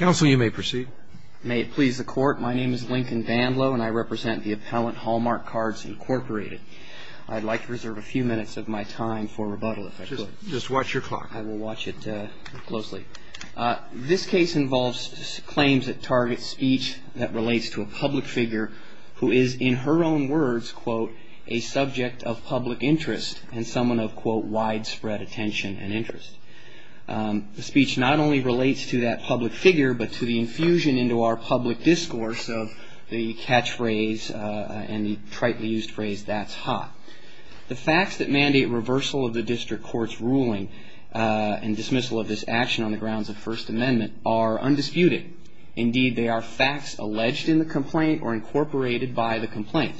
This case involves claims that target speech that relates to a public figure who is in her own words, quote, a subject of public interest and someone of, quote, widespread attention and interest. The speech not only relates to that public figure, but to the infusion into our public discourse of the catchphrase and the tritely used phrase, that's hot. The facts that mandate reversal of the district court's ruling and dismissal of this action on the grounds of First Amendment are undisputed. Indeed, they are facts alleged in the complaint or incorporated by the complaint.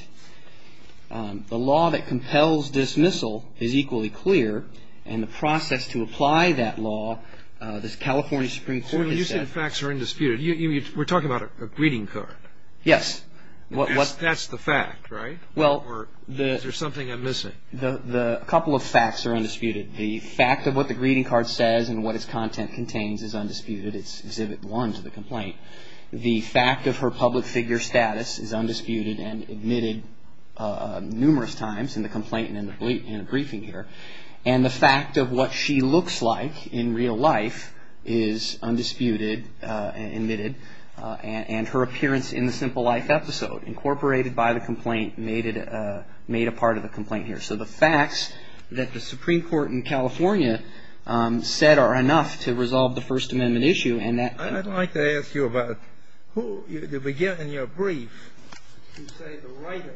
The law that compels dismissal is equally clear, and the process to apply that law, this California Supreme Court has said. You said facts are undisputed. We're talking about a greeting card. Yes. That's the fact, right? Or is there something I'm missing? Well, a couple of facts are undisputed. The fact of what the greeting card says and what its content contains is undisputed. It's Exhibit 1 to the complaint. The fact of her public figure status is undisputed and admitted numerous times in the complaint and in the briefing here. And the fact of what she looks like in real life is undisputed and admitted. And her appearance in the Simple Life episode, incorporated by the complaint, made a part of the complaint here. So the facts that the Supreme Court in California said are enough to resolve the First Amendment issue. I'd like to ask you about who, to begin in your brief, you say the writer,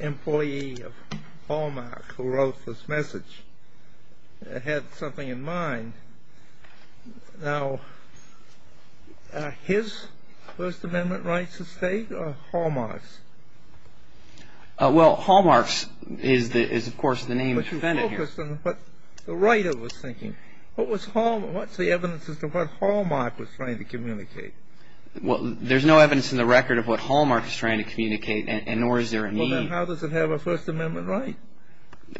employee of Hallmark, who wrote this message, had something in mind. Now, his First Amendment rights at stake or Hallmark's? Well, Hallmark's is, of course, the name of the defendant here. But the writer was thinking, what's the evidence as to what Hallmark was trying to communicate? Well, there's no evidence in the record of what Hallmark is trying to communicate, and nor is there a need. Well, then how does it have a First Amendment right?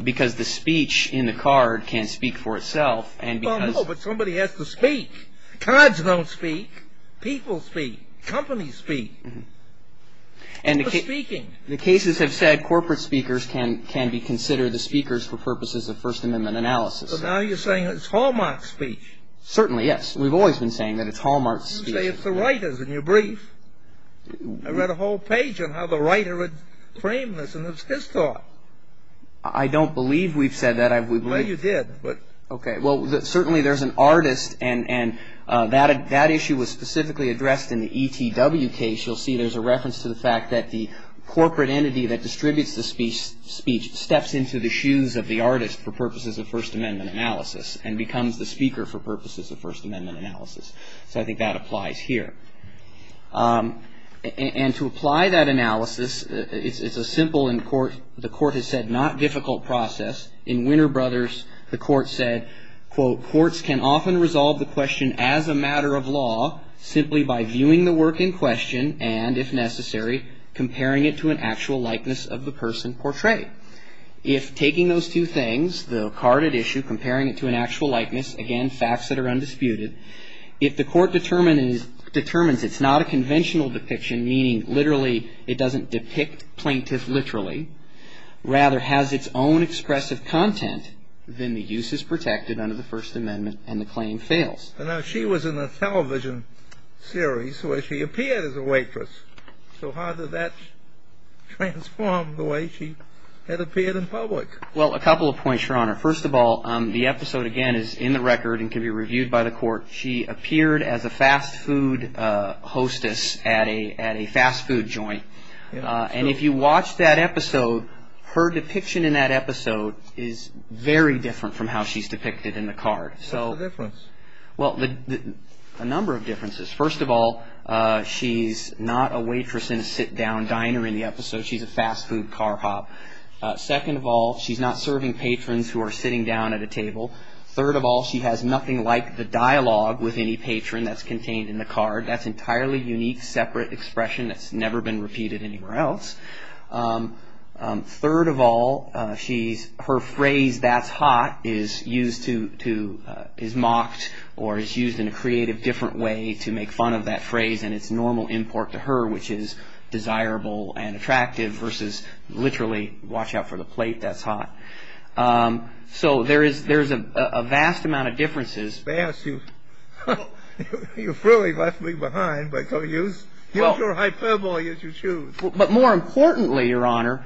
Because the speech in the card can speak for itself. Well, no, but somebody has to speak. Cards don't speak. People speak. Companies speak. People are speaking. The cases have said corporate speakers can be considered the speakers for purposes of First Amendment analysis. So now you're saying it's Hallmark's speech? Certainly, yes. We've always been saying that it's Hallmark's speech. You say it's the writer's in your brief. I read a whole page on how the writer had framed this, and it's his thought. I don't believe we've said that. Well, you did. Okay. Well, certainly there's an artist, and that issue was specifically addressed in the ETW case. You'll see there's a reference to the fact that the corporate entity that distributes the speech steps into the shoes of the artist for purposes of First Amendment analysis and becomes the speaker for purposes of First Amendment analysis. So I think that applies here. And to apply that analysis, it's a simple and, the Court has said, not difficult process. In Winter Brothers, the Court said, quote, The Courts can often resolve the question as a matter of law simply by viewing the work in question and, if necessary, comparing it to an actual likeness of the person portrayed. If taking those two things, the carded issue, comparing it to an actual likeness, again, facts that are undisputed, if the Court determines it's not a conventional depiction, meaning literally it doesn't depict plaintiff literally, rather has its own expressive content, then the use is protected under the First Amendment and the claim fails. Now, she was in a television series where she appeared as a waitress. So how did that transform the way she had appeared in public? Well, a couple of points, Your Honor. First of all, the episode, again, is in the record and can be reviewed by the Court. She appeared as a fast food hostess at a fast food joint. And if you watch that episode, her depiction in that episode is very different from how she's depicted in the card. What's the difference? Well, a number of differences. First of all, she's not a waitress in a sit-down diner in the episode. She's a fast food car hop. Second of all, she's not serving patrons who are sitting down at a table. Third of all, she has nothing like the dialogue with any patron that's contained in the card. That's an entirely unique, separate expression that's never been repeated anywhere else. Third of all, her phrase, that's hot, is mocked or is used in a creative, different way to make fun of that phrase and its normal import to her, which is desirable and attractive versus literally, watch out for the plate, that's hot. So there's a vast amount of differences. You've really left me behind, but use your hyperbole as you choose. But more importantly, Your Honor,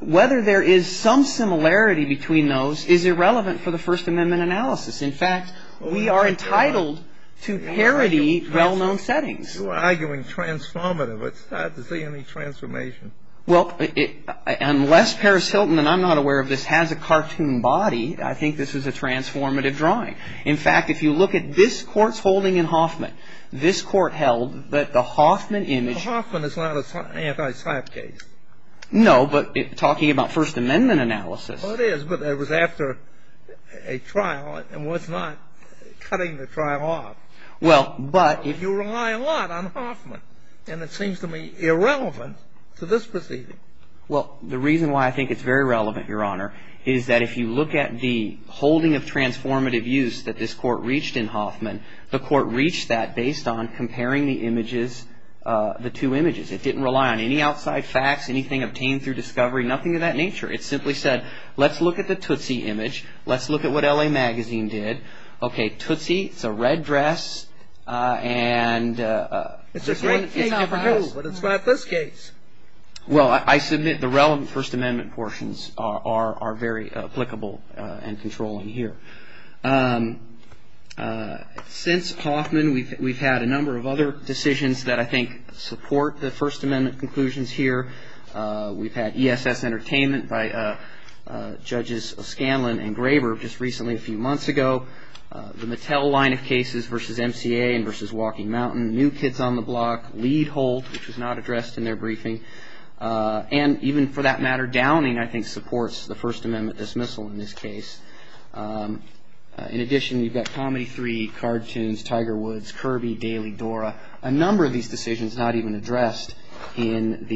whether there is some similarity between those is irrelevant for the First Amendment analysis. In fact, we are entitled to parody well-known settings. You are arguing transformative. It's hard to see any transformation. Well, unless Paris Hilton, and I'm not aware of this, has a cartoon body, I think this is a transformative drawing. In fact, if you look at this Court's holding in Hoffman, this Court held that the Hoffman image. Hoffman is not an anti-Sype case. No, but talking about First Amendment analysis. Well, it is, but it was after a trial and was not cutting the trial off. Well, but. You rely a lot on Hoffman, and it seems to me irrelevant to this proceeding. Well, the reason why I think it's very relevant, Your Honor, is that if you look at the holding of transformative use that this Court reached in Hoffman, the Court reached that based on comparing the images, the two images. It didn't rely on any outside facts, anything obtained through discovery, nothing of that nature. It simply said, let's look at the Tootsie image. Let's look at what L.A. Magazine did. Okay, Tootsie, it's a red dress, and it's different. It's a great thing over here, but it's not this case. Well, I submit the relevant First Amendment portions are very applicable and controlling here. Since Hoffman, we've had a number of other decisions that I think support the First Amendment conclusions here. We've had ESS Entertainment by Judges Scanlon and Graber just recently, a few months ago. The Mattel line of cases versus MCA and versus Walking Mountain, New Kids on the Block, Leed-Holt, which was not addressed in their briefing, and even for that matter, Downing I think supports the First Amendment dismissal in this case. In addition, you've got Comedy 3, Cartoons, Tiger Woods, Kirby, Daily, Dora, a number of these decisions not even addressed in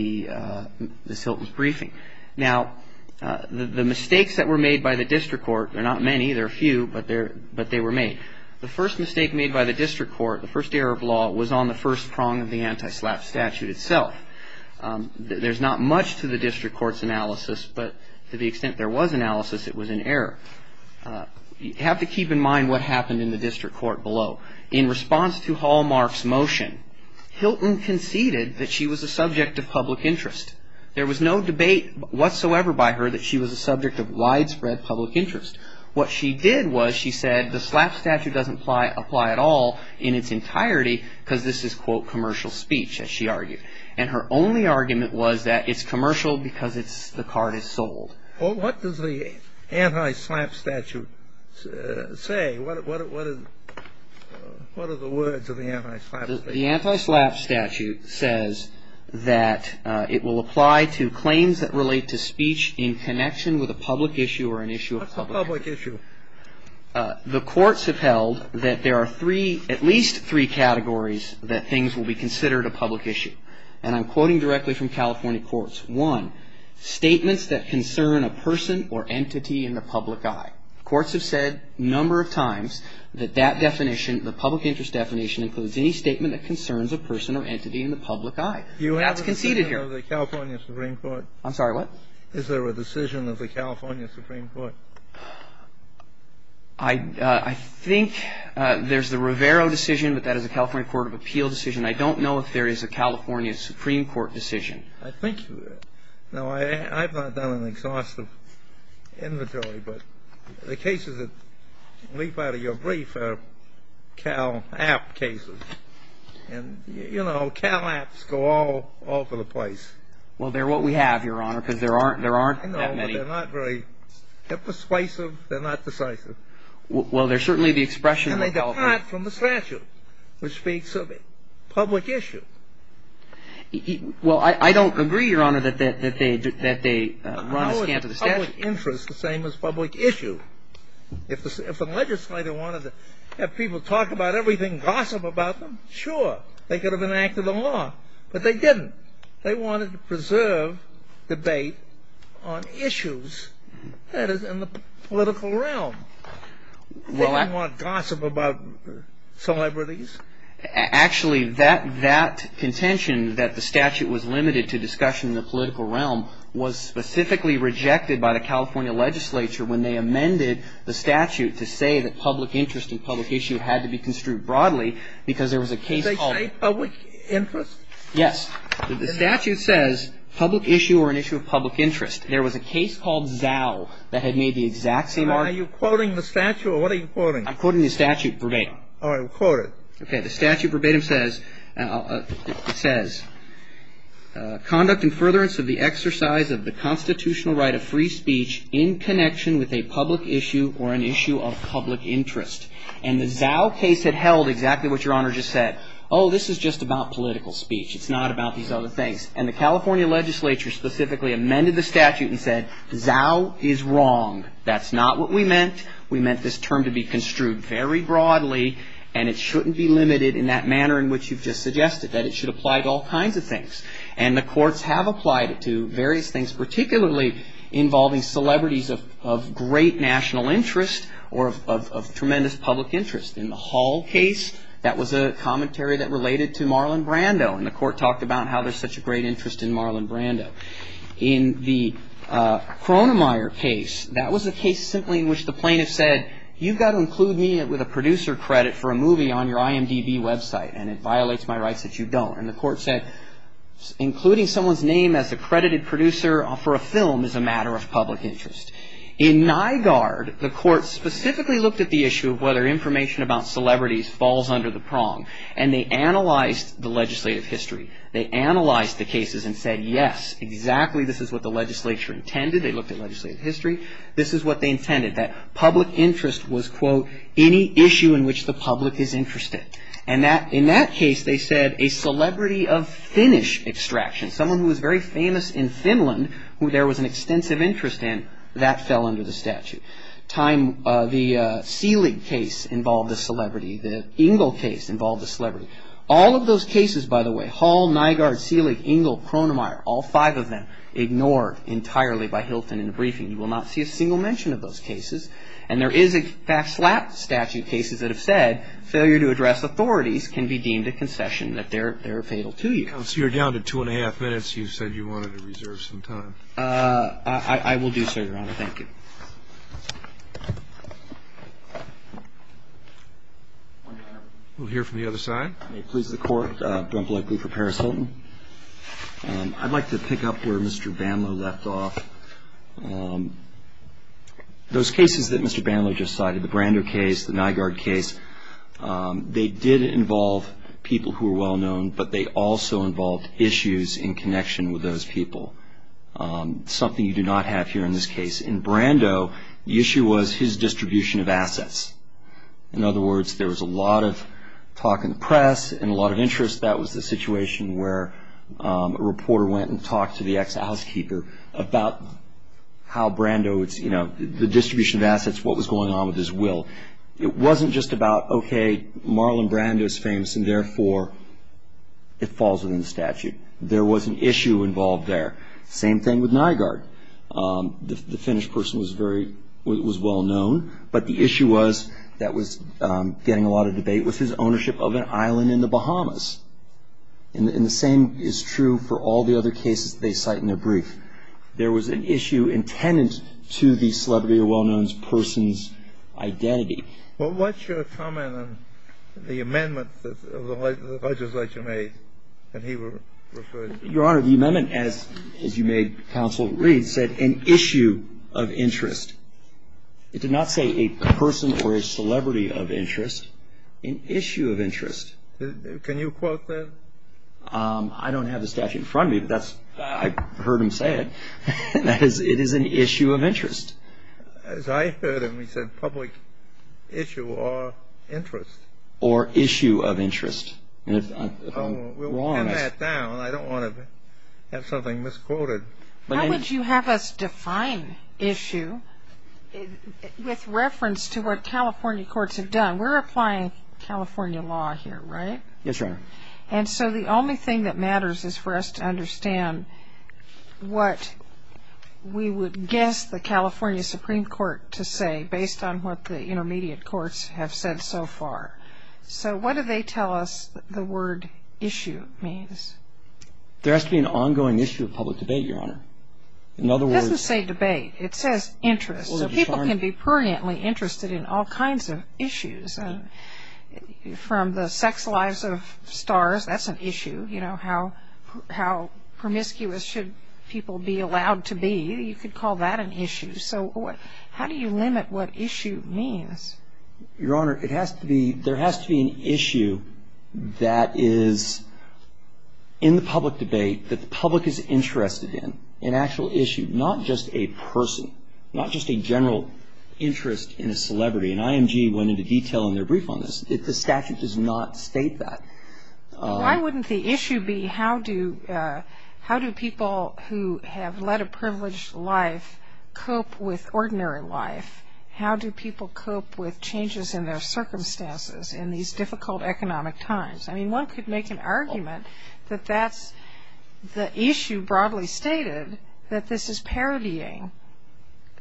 this Hilton's briefing. Now, the mistakes that were made by the District Court are not many. There are a few, but they were made. The first mistake made by the District Court, the first error of law, was on the first prong of the anti-SLAPP statute itself. There's not much to the District Court's analysis, but to the extent there was analysis, it was an error. You have to keep in mind what happened in the District Court below. In response to Hallmark's motion, Hilton conceded that she was a subject of public interest. There was no debate whatsoever by her that she was a subject of widespread public interest. What she did was she said the SLAPP statute doesn't apply at all in its entirety because this is, quote, commercial speech, as she argued. And her only argument was that it's commercial because the card is sold. Well, what does the anti-SLAPP statute say? What are the words of the anti-SLAPP statute? The anti-SLAPP statute says that it will apply to claims that relate to speech in connection with a public issue or an issue of public interest. What's a public issue? The courts have held that there are three, at least three categories, that things will be considered a public issue. And I'm quoting directly from California courts. One, statements that concern a person or entity in the public eye. Courts have said a number of times that that definition, the public interest definition, includes any statement that concerns a person or entity in the public eye. That's conceded here. You haven't said that in the California Supreme Court. Is there a decision of the California Supreme Court? I think there's the Rivero decision, but that is a California Court of Appeal decision. I don't know if there is a California Supreme Court decision. I think you do. Now, I've not done an exhaustive inventory, but the cases that leap out of your brief are CAL-AP cases. And, you know, CAL-APs go all over the place. Well, they're what we have, Your Honor, because there aren't that many. I know, but they're not very persuasive. They're not decisive. Well, they're certainly the expression of the government. And they depart from the statute, which speaks of a public issue. Well, I don't agree, Your Honor, that they run a scant of the statute. The public interest is the same as public issue. If a legislator wanted to have people talk about everything, gossip about them, sure. They could have enacted a law. But they didn't. They wanted to preserve debate on issues, that is, in the political realm. They didn't want gossip about celebrities. Actually, that contention that the statute was limited to discussion in the political realm was specifically rejected by the California legislature when they amended the statute to say that public interest and public issue had to be construed broadly because there was a case called Did they say public interest? Yes. The statute says public issue or an issue of public interest. There was a case called Zao that had made the exact same argument. Are you quoting the statute, or what are you quoting? I'm quoting the statute verbatim. All right. Quote it. Okay. The statute verbatim says, it says, Conduct in furtherance of the exercise of the constitutional right of free speech in connection with a public issue or an issue of public interest. And the Zao case had held exactly what Your Honor just said. Oh, this is just about political speech. It's not about these other things. And the California legislature specifically amended the statute and said, Zao is wrong. That's not what we meant. We meant this term to be construed very broadly, and it shouldn't be limited in that manner in which you've just suggested, that it should apply to all kinds of things. And the courts have applied it to various things, particularly involving celebrities of great national interest or of tremendous public interest. In the Hall case, that was a commentary that related to Marlon Brando, and the court talked about how there's such a great interest in Marlon Brando. In the Cronemeyer case, that was a case simply in which the plaintiff said, You've got to include me with a producer credit for a movie on your IMDb website, and it violates my rights that you don't. And the court said, Including someone's name as a credited producer for a film is a matter of public interest. In Nygaard, the court specifically looked at the issue of whether information about celebrities falls under the prong, and they analyzed the legislative history. They analyzed the cases and said, Yes, exactly this is what the legislature intended. They looked at legislative history. This is what they intended, that public interest was, quote, any issue in which the public is interested. And in that case, they said a celebrity of Finnish extraction, someone who was very famous in Finland, who there was an extensive interest in, that fell under the statute. The Seelig case involved a celebrity. The Engel case involved a celebrity. All of those cases, by the way, Hall, Nygaard, Seelig, Engel, Cronemeyer, all five of them ignored entirely by Hilton in the briefing. You will not see a single mention of those cases. And there is, in fact, statute cases that have said, Failure to address authorities can be deemed a concession, that they're fatal to you. Counsel, you're down to two and a half minutes. You said you wanted to reserve some time. I will do so, Your Honor. Thank you. We'll hear from the other side. May it please the Court. Brent Blakely for Paris Hilton. I'd like to pick up where Mr. Banlow left off. Those cases that Mr. Banlow just cited, the Brando case, the Nygaard case, they did involve people who were well-known, but they also involved issues in connection with those people, something you do not have here in this case. In Brando, the issue was his distribution of assets. In other words, there was a lot of talk in the press and a lot of interest. That was the situation where a reporter went and talked to the ex-housekeeper about how Brando, you know, the distribution of assets, what was going on with his will. It wasn't just about, okay, Marlon Brando is famous and, therefore, it falls within the statute. There was an issue involved there. Same thing with Nygaard. The Finnish person was well-known, but the issue was that was getting a lot of debate was his ownership of an island in the Bahamas. And the same is true for all the other cases they cite in their brief. There was an issue intended to the celebrity or well-known person's identity. Well, what's your comment on the amendment that the legislature made that he referred to? Your Honor, the amendment, as you made counsel read, said an issue of interest. It did not say a person or a celebrity of interest. An issue of interest. Can you quote that? I don't have the statute in front of me. I heard him say it. It is an issue of interest. As I heard him, he said public issue or interest. Or issue of interest. We'll pin that down. I don't want to have something misquoted. How would you have us define issue with reference to what California courts have done? We're applying California law here, right? Yes, Your Honor. And so the only thing that matters is for us to understand what we would guess the California Supreme Court to say based on what the intermediate courts have said so far. So what do they tell us the word issue means? There has to be an ongoing issue of public debate, Your Honor. In other words. It doesn't say debate. It says interest. So people can be pruriently interested in all kinds of issues. From the sex lives of stars, that's an issue. You know, how promiscuous should people be allowed to be? You could call that an issue. So how do you limit what issue means? Your Honor, it has to be, there has to be an issue that is in the public debate that the public is interested in. An actual issue. Not just a person. Not just a general interest in a celebrity. And IMG went into detail in their brief on this. The statute does not state that. Why wouldn't the issue be how do people who have led a privileged life cope with ordinary life? How do people cope with changes in their circumstances in these difficult economic times? I mean, one could make an argument that that's the issue broadly stated that this is parodying.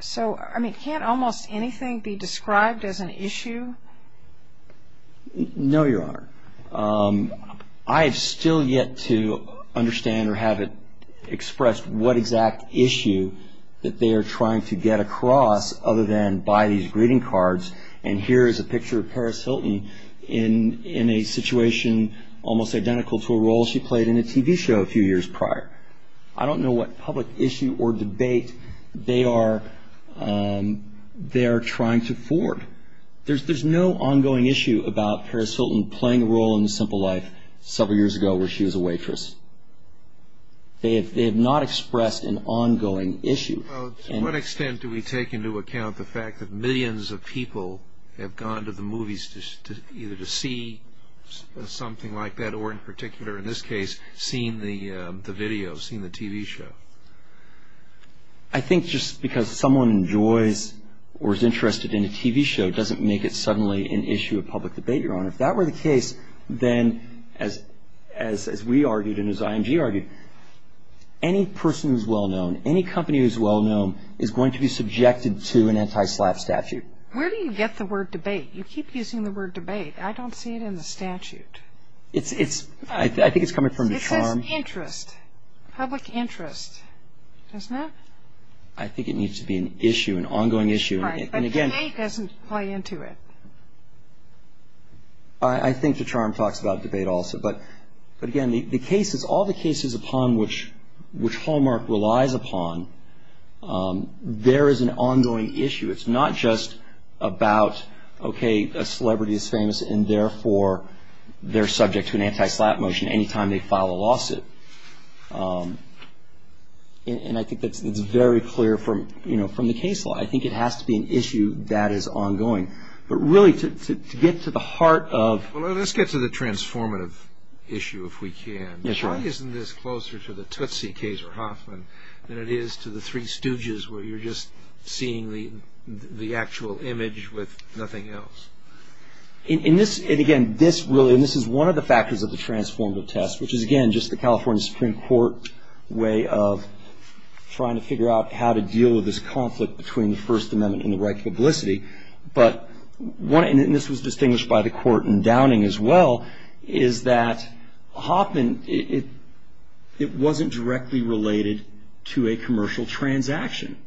So, I mean, can't almost anything be described as an issue? No, Your Honor. I have still yet to understand or have it expressed what exact issue that they are trying to get across other than by these greeting cards. And here is a picture of Paris Hilton in a situation almost identical to a role she played in a TV show a few years prior. I don't know what public issue or debate they are trying to forge. There's no ongoing issue about Paris Hilton playing a role in the simple life several years ago where she was a waitress. They have not expressed an ongoing issue. Well, to what extent do we take into account the fact that millions of people have gone to the movies either to see something like that or in particular, in this case, seen the video, seen the TV show? I think just because someone enjoys or is interested in a TV show doesn't make it suddenly an issue of public debate, Your Honor. If that were the case, then as we argued and as IMG argued, any person who is well-known, any company who is well-known is going to be subjected to an anti-SLAPP statute. Where do you get the word debate? You keep using the word debate. I don't see it in the statute. I think it's coming from the charm. It says interest, public interest, doesn't it? I think it needs to be an issue, an ongoing issue. But debate doesn't play into it. I think the charm talks about debate also. But, again, the cases, all the cases upon which Hallmark relies upon, there is an ongoing issue. It's not just about, okay, a celebrity is famous and, therefore, they're subject to an anti-SLAPP motion any time they file a lawsuit. And I think that's very clear from the case law. I think it has to be an issue that is ongoing. But, really, to get to the heart of- Well, let's get to the transformative issue, if we can. Why isn't this closer to the Tootsie case or Hoffman than it is to the three stooges where you're just seeing the actual image with nothing else? And, again, this is one of the factors of the transformative test, which is, again, just the California Supreme Court way of trying to figure out how to deal with this conflict between the First Amendment and the right to publicity. And this was distinguished by the court in Downing as well, is that Hoffman, it wasn't directly related to a commercial transaction.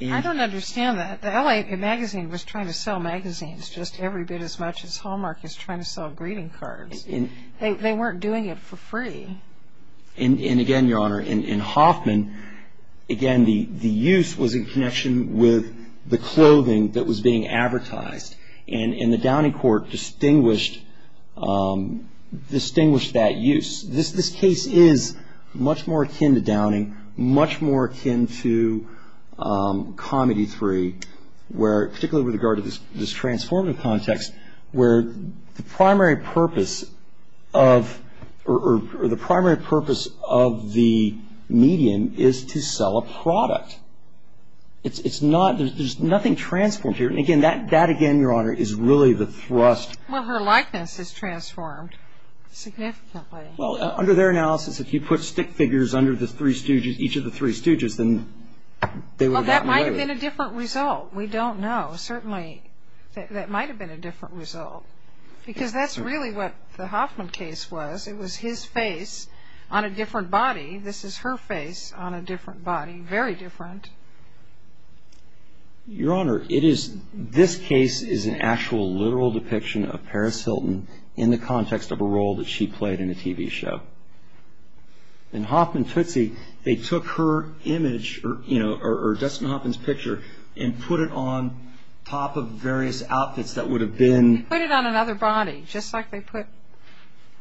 I don't understand that. The L.A. Magazine was trying to sell magazines just every bit as much as Hallmark is trying to sell greeting cards. They weren't doing it for free. And, again, Your Honor, in Hoffman, again, the use was in connection with the clothing that was being advertised. And the Downing court distinguished that use. This case is much more akin to Downing, much more akin to Comedy 3, particularly with regard to this transformative context, where the primary purpose of the median is to sell a product. There's nothing transformed here. And, again, that, again, Your Honor, is really the thrust. Well, her likeness is transformed significantly. Well, under their analysis, if you put stick figures under the three stooges, each of the three stooges, then they were that way. Well, that might have been a different result. We don't know. Certainly that might have been a different result, because that's really what the Hoffman case was. It was his face on a different body. This is her face on a different body, very different. Your Honor, this case is an actual literal depiction of Paris Hilton in the context of a role that she played in a TV show. In Hoffman Tootsie, they took her image, or Dustin Hoffman's picture, and put it on top of various outfits that would have been... They put it on another body, just like they put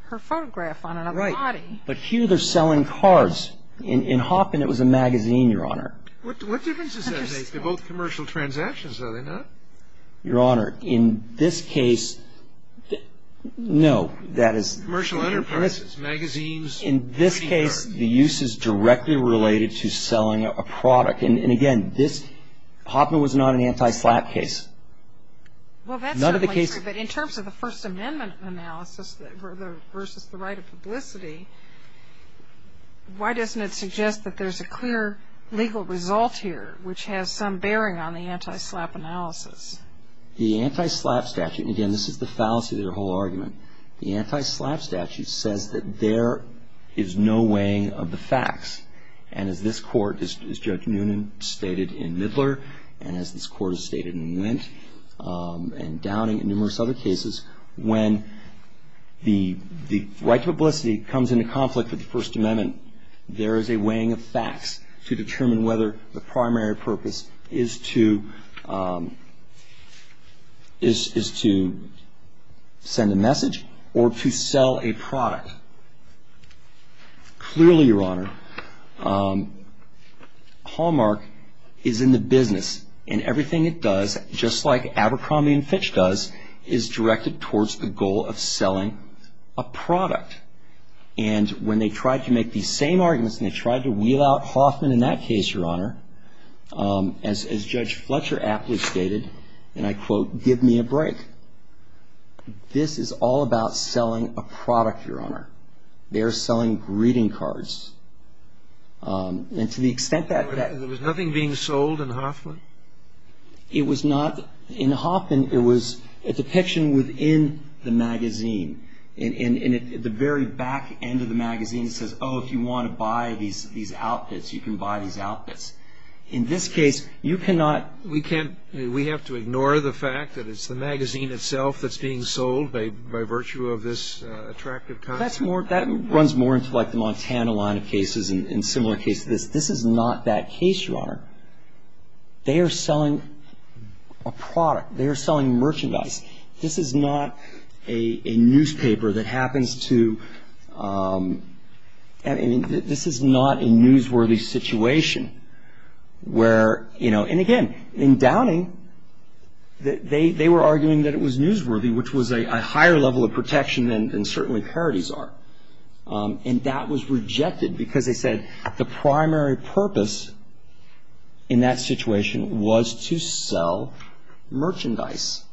her photograph on another body. Right. But here they're selling cards. In Hoffman, it was a magazine, Your Honor. What difference does that make? They're both commercial transactions, are they not? Your Honor, in this case, no. Commercial enterprises, magazines. In this case, the use is directly related to selling a product. And again, Hoffman was not an anti-slap case. Well, that's certainly true, but in terms of the First Amendment analysis versus the right of publicity, why doesn't it suggest that there's a clear legal result here which has some bearing on the anti-slap analysis? The anti-slap statute, and again, this is the fallacy of their whole argument, the anti-slap statute says that there is no weighing of the facts. And as this Court, as Judge Noonan stated in Midler, and as this Court has stated in Wendt and Downing and numerous other cases, when the right to publicity comes into conflict with the First Amendment, there is a weighing of facts to determine whether the primary purpose is to send a message or to sell a product. Clearly, Your Honor, Hallmark is in the business, and everything it does, just like Abercrombie & Fitch does, is directed towards the goal of selling a product. And when they tried to make these same arguments and they tried to wheel out Hoffman in that case, Your Honor, as Judge Fletcher aptly stated, and I quote, give me a break, this is all about selling a product, Your Honor. They are selling greeting cards. And to the extent that that ---- There was nothing being sold in Hoffman? It was not. The very back end of the magazine says, oh, if you want to buy these outfits, you can buy these outfits. In this case, you cannot ---- We can't ---- we have to ignore the fact that it's the magazine itself that's being sold by virtue of this attractive concept. That's more ---- that runs more into like the Montana line of cases and similar cases. This is not that case, Your Honor. They are selling a product. They are selling merchandise. This is not a newspaper that happens to ---- This is not a newsworthy situation where, you know, and again, in Downing, they were arguing that it was newsworthy, which was a higher level of protection than certainly parodies are. And that was rejected because they said the primary purpose in that situation was to sell merchandise.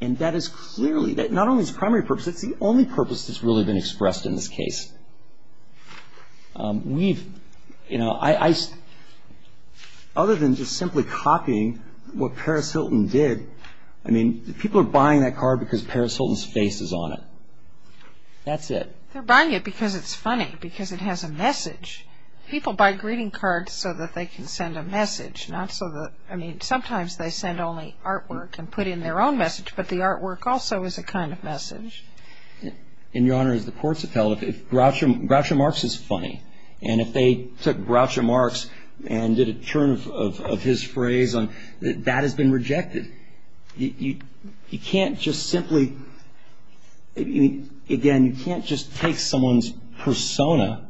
And that is clearly that not only is the primary purpose, it's the only purpose that's really been expressed in this case. We've, you know, I ---- other than just simply copying what Paris Hilton did, I mean, people are buying that card because Paris Hilton's face is on it. That's it. They're buying it because it's funny, because it has a message. People buy greeting cards so that they can send a message, not so that ---- I mean, sometimes they send only artwork and put in their own message, but the artwork also is a kind of message. And, Your Honor, as the courts have felt, if Groucho Marx is funny, and if they took Groucho Marx and did a turn of his phrase on ---- that has been rejected. You can't just simply ---- again, you can't just take someone's persona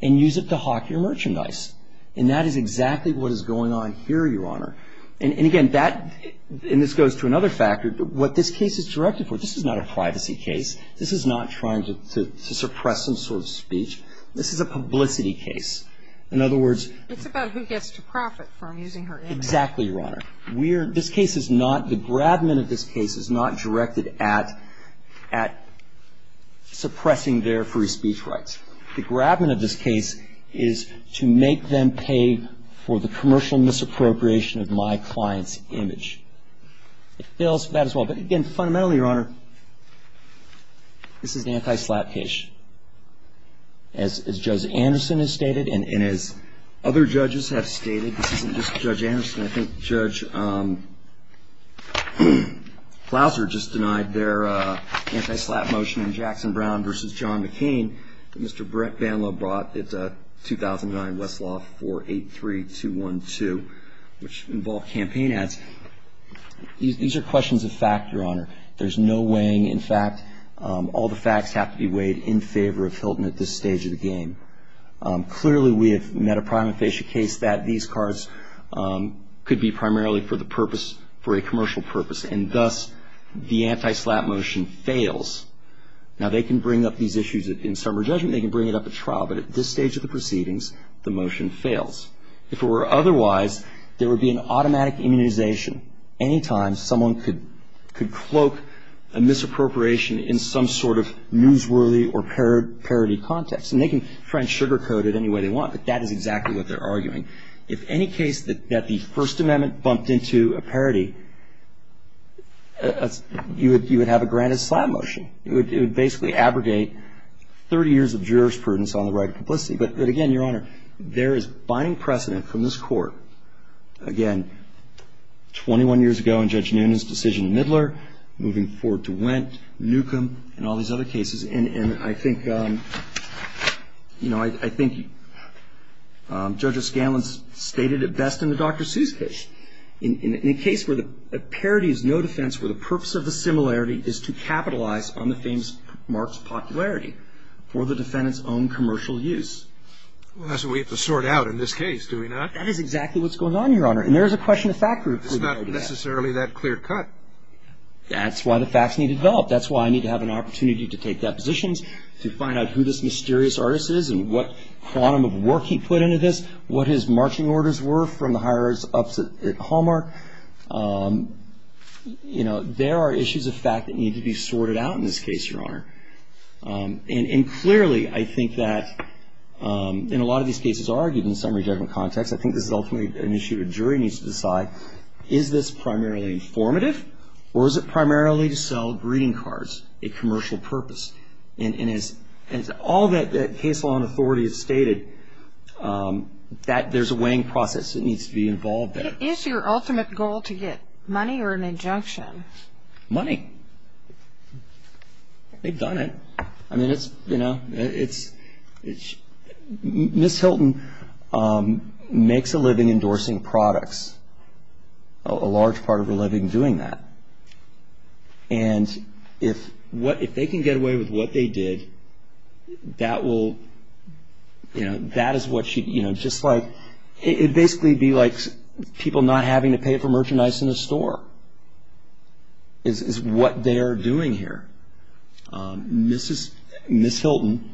and use it to hawk your merchandise. And that is exactly what is going on here, Your Honor. And again, that ---- and this goes to another factor. What this case is directed for, this is not a privacy case. This is not trying to suppress some sort of speech. This is a publicity case. In other words ---- It's about who gets to profit from using her image. Exactly, Your Honor. We are ---- this case is not ---- the grabment of this case is not directed at suppressing their free speech rights. The grabment of this case is to make them pay for the commercial misappropriation of my client's image. It fails for that as well. But again, fundamentally, Your Honor, this is an anti-slap case. As Judge Anderson has stated, and as other judges have stated, this isn't just Judge Anderson. I think Judge Plowser just denied their anti-slap motion in Jackson Brown v. John McCain that Mr. Brett Banlow brought. It's 2009, Westlaw 483212, which involved campaign ads. These are questions of fact, Your Honor. There's no weighing. In fact, all the facts have to be weighed in favor of Hilton at this stage of the game. Clearly, we have met a prima facie case that these cards could be primarily for the purpose, for a commercial purpose. And thus, the anti-slap motion fails. Now, they can bring up these issues in summary judgment. They can bring it up at trial. But at this stage of the proceedings, the motion fails. If it were otherwise, there would be an automatic immunization anytime someone could cloak a misappropriation in some sort of newsworthy or parody context. And they can try and sugarcoat it any way they want. But that is exactly what they're arguing. If any case that the First Amendment bumped into a parody, you would have a granted slap motion. It would basically abrogate 30 years of jurisprudence on the right of complicity. But again, Your Honor, there is binding precedent from this Court. Again, 21 years ago in Judge Noonan's decision in Midler, moving forward to Wendt, Newcomb, and all these other cases. And I think, you know, I think Judge O'Scanlan stated it best in the Dr. Seuss case. In a case where the parody is no defense, where the purpose of the similarity is to capitalize on the famous mark's popularity for the defendant's own commercial use. Well, that's what we have to sort out in this case, do we not? That is exactly what's going on, Your Honor. And there is a question of fact group. It's not necessarily that clear cut. That's why the facts need to develop. That's why I need to have an opportunity to take depositions, to find out who this mysterious artist is and what quantum of work he put into this. What his marching orders were from the higher ups at Hallmark. You know, there are issues of fact that need to be sorted out in this case, Your Honor. And clearly, I think that in a lot of these cases argued in summary judgment context, I think this is ultimately an issue a jury needs to decide. Is this primarily informative or is it primarily to sell greeting cards, a commercial purpose? And as all that case law and authority has stated, there's a weighing process that needs to be involved there. Is your ultimate goal to get money or an injunction? Money. They've done it. I mean, it's, you know, it's Ms. Hilton makes a living endorsing products, a large part of her living doing that. And if what if they can get away with what they did, that will you know, that is what you know, just like it basically be like people not having to pay for merchandise in the store. Is what they're doing here. Mrs. Ms. Hilton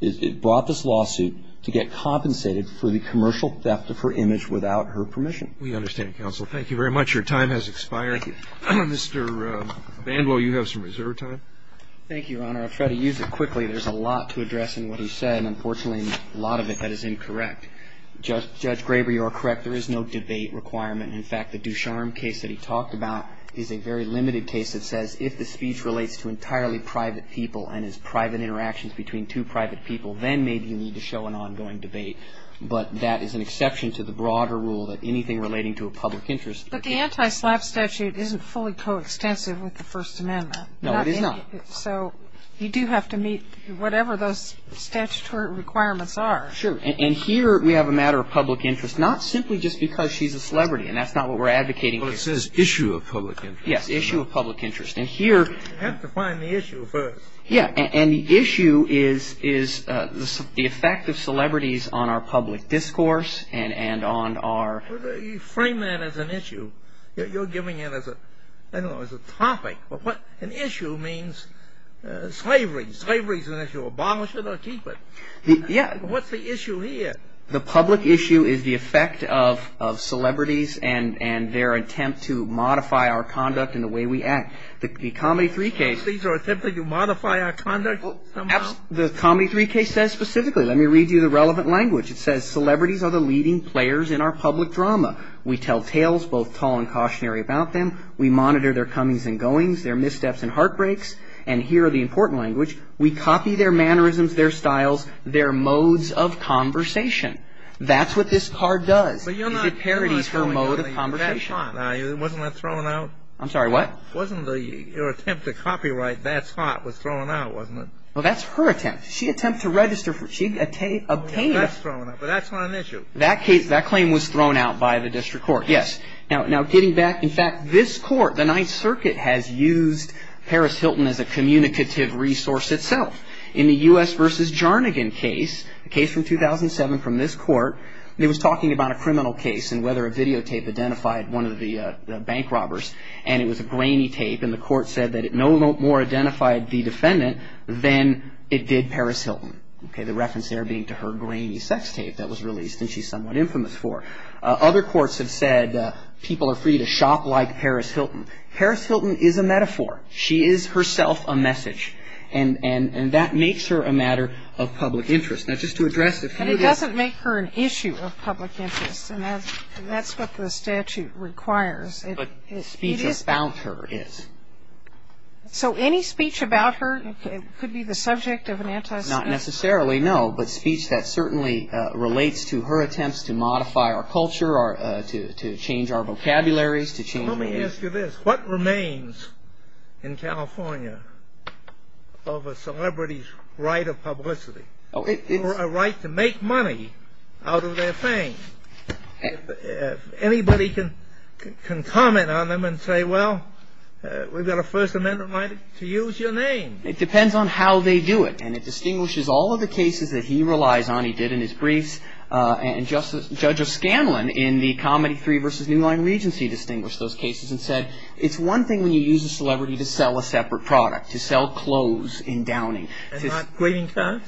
is it brought this lawsuit to get compensated for the commercial theft of her image without her permission. We understand counsel. Thank you very much. Your time has expired. Mr. Bandwell, you have some reserve time. Thank you, Your Honor. I try to use it quickly. There's a lot to address in what he said. Unfortunately, a lot of it that is incorrect. Just Judge Graber, you're correct. There is no debate requirement. In fact, the Ducharme case that he talked about is a very limited case that says if the speech relates to entirely private people and is private interactions between two private people, then maybe you need to show an ongoing debate. But that is an exception to the broader rule that anything relating to a public interest. But the anti-slap statute isn't fully coextensive with the First Amendment. No, it is not. So you do have to meet whatever those statutory requirements are. Sure. And here we have a matter of public interest, not simply just because she's a celebrity. And that's not what we're advocating here. Well, it says issue of public interest. Yes, issue of public interest. You have to find the issue first. Yes, and the issue is the effect of celebrities on our public discourse and on our... You frame that as an issue. You're giving it as a topic. An issue means slavery. Slavery is an issue. Abolish it or keep it. Yes. What's the issue here? The public issue is the effect of celebrities and their attempt to modify our conduct and the way we act. The Comedy 3 case... These are attempts to modify our conduct? The Comedy 3 case says specifically. Let me read you the relevant language. It says celebrities are the leading players in our public drama. We tell tales, both tall and cautionary, about them. We monitor their comings and goings, their missteps and heartbreaks. And here are the important language. We copy their mannerisms, their styles, their modes of conversation. That's what this card does. It parodies her mode of conversation. Wasn't that thrown out? I'm sorry, what? Wasn't your attempt to copyright That's Hot was thrown out, wasn't it? Well, that's her attempt. She attempted to register. She obtained it. That's thrown out, but that's not an issue. That claim was thrown out by the district court, yes. Now, getting back, in fact, this court, the Ninth Circuit, has used Paris Hilton as a communicative resource itself. In the U.S. v. Jarnigan case, a case from 2007 from this court, it was talking about a criminal case and whether a videotape identified one of the bank robbers. And it was a grainy tape. And the court said that it no more identified the defendant than it did Paris Hilton. The reference there being to her grainy sex tape that was released and she's somewhat infamous for. Other courts have said people are free to shop like Paris Hilton. Paris Hilton is a metaphor. She is herself a message. And that makes her a matter of public interest. Now, just to address a few of the And it doesn't make her an issue of public interest. And that's what the statute requires. But speech about her is. So any speech about her could be the subject of an anti-speech? Not necessarily, no. But speech that certainly relates to her attempts to modify our culture, to change our vocabularies, to change. Let me ask you this. What remains in California of a celebrity's right of publicity or a right to make money out of their fame? If anybody can comment on them and say, well, we've got a First Amendment right to use your name. It depends on how they do it. And it distinguishes all of the cases that he relies on. He did in his briefs. And Judge O'Scanlan in the Comedy 3 versus New Line Regency distinguished those cases and said, it's one thing when you use a celebrity to sell a separate product, to sell clothes in Downing. And not waiting times?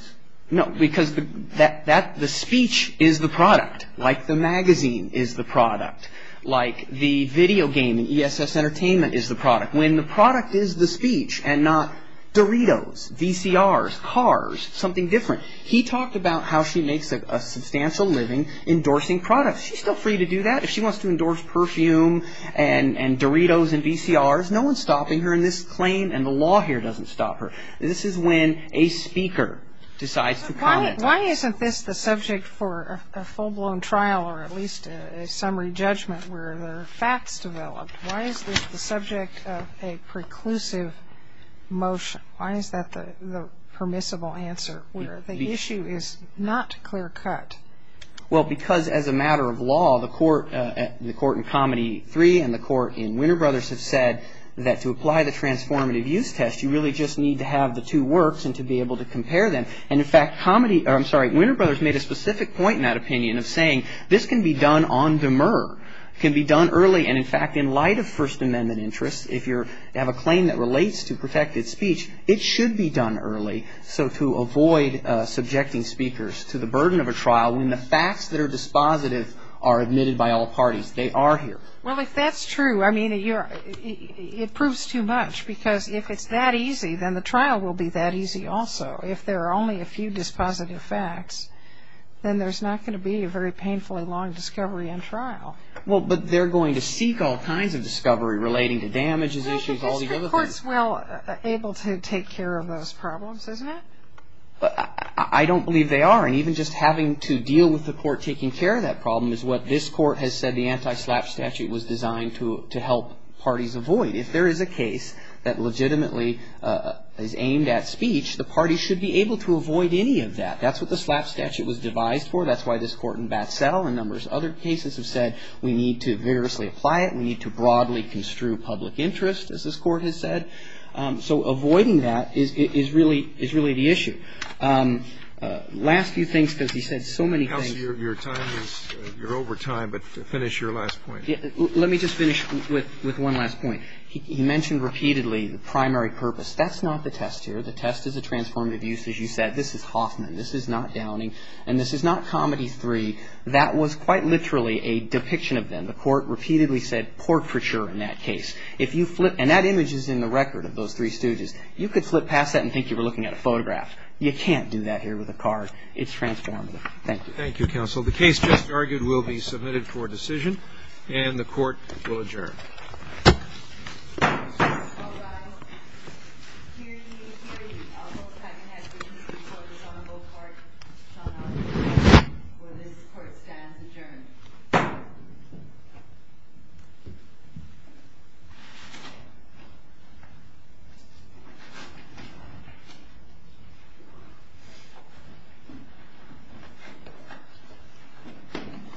No, because the speech is the product. Like the magazine is the product. Like the video game, ESS Entertainment, is the product. When the product is the speech and not Doritos, VCRs, cars, something different. He talked about how she makes a substantial living endorsing products. She's still free to do that. If she wants to endorse perfume and Doritos and VCRs, no one's stopping her in this claim. And the law here doesn't stop her. This is when a speaker decides to comment. Why isn't this the subject for a full-blown trial or at least a summary judgment where there are facts developed? Why is this the subject of a preclusive motion? Why is that the permissible answer where the issue is not clear-cut? Well, because as a matter of law, the court in Comedy 3 and the court in Winter Brothers have said that to apply the transformative use test, you really just need to have the two works and to be able to compare them. And in fact, Winter Brothers made a specific point in that opinion of saying, this can be done on demur. It can be done early. And in fact, in light of First Amendment interests, if you have a claim that relates to protected speech, it should be done early so to avoid subjecting speakers to the burden of a trial when the facts that are dispositive are admitted by all parties. They are here. Well, if that's true, I mean, it proves too much because if it's that easy, then the trial will be that easy also. If there are only a few dispositive facts, then there's not going to be a very painfully long discovery and trial. Well, but they're going to seek all kinds of discovery relating to damages, issues, all the other things. I think the district court's well able to take care of those problems, isn't it? I don't believe they are. And even just having to deal with the court taking care of that problem is what this court has said the anti-SLAPP statute was designed to help parties avoid. If there is a case that legitimately is aimed at speech, the parties should be able to avoid any of that. That's what the SLAPP statute was devised for. That's why this Court in Batsell and numbers of other cases have said we need to vigorously apply it. We need to broadly construe public interest, as this Court has said. So avoiding that is really the issue. Last few things because he said so many things. Counsel, your time is you're over time, but finish your last point. Let me just finish with one last point. He mentioned repeatedly the primary purpose. That's not the test here. The test is a transformative use. As you said, this is Hoffman. This is not Downing. And this is not Comedy 3. That was quite literally a depiction of them. The Court repeatedly said portraiture in that case. If you flip and that image is in the record of those three stooges, you could flip past that and think you were looking at a photograph. You can't do that here with a card. It's transformative. Thank you. Thank you, Counsel. The case just argued will be submitted for decision, and the Court will adjourn. All rise. Hear ye. Hear ye. I'll call the time ahead for decision for the Sonneville Court. The Sonneville Court, where this Court stands adjourned.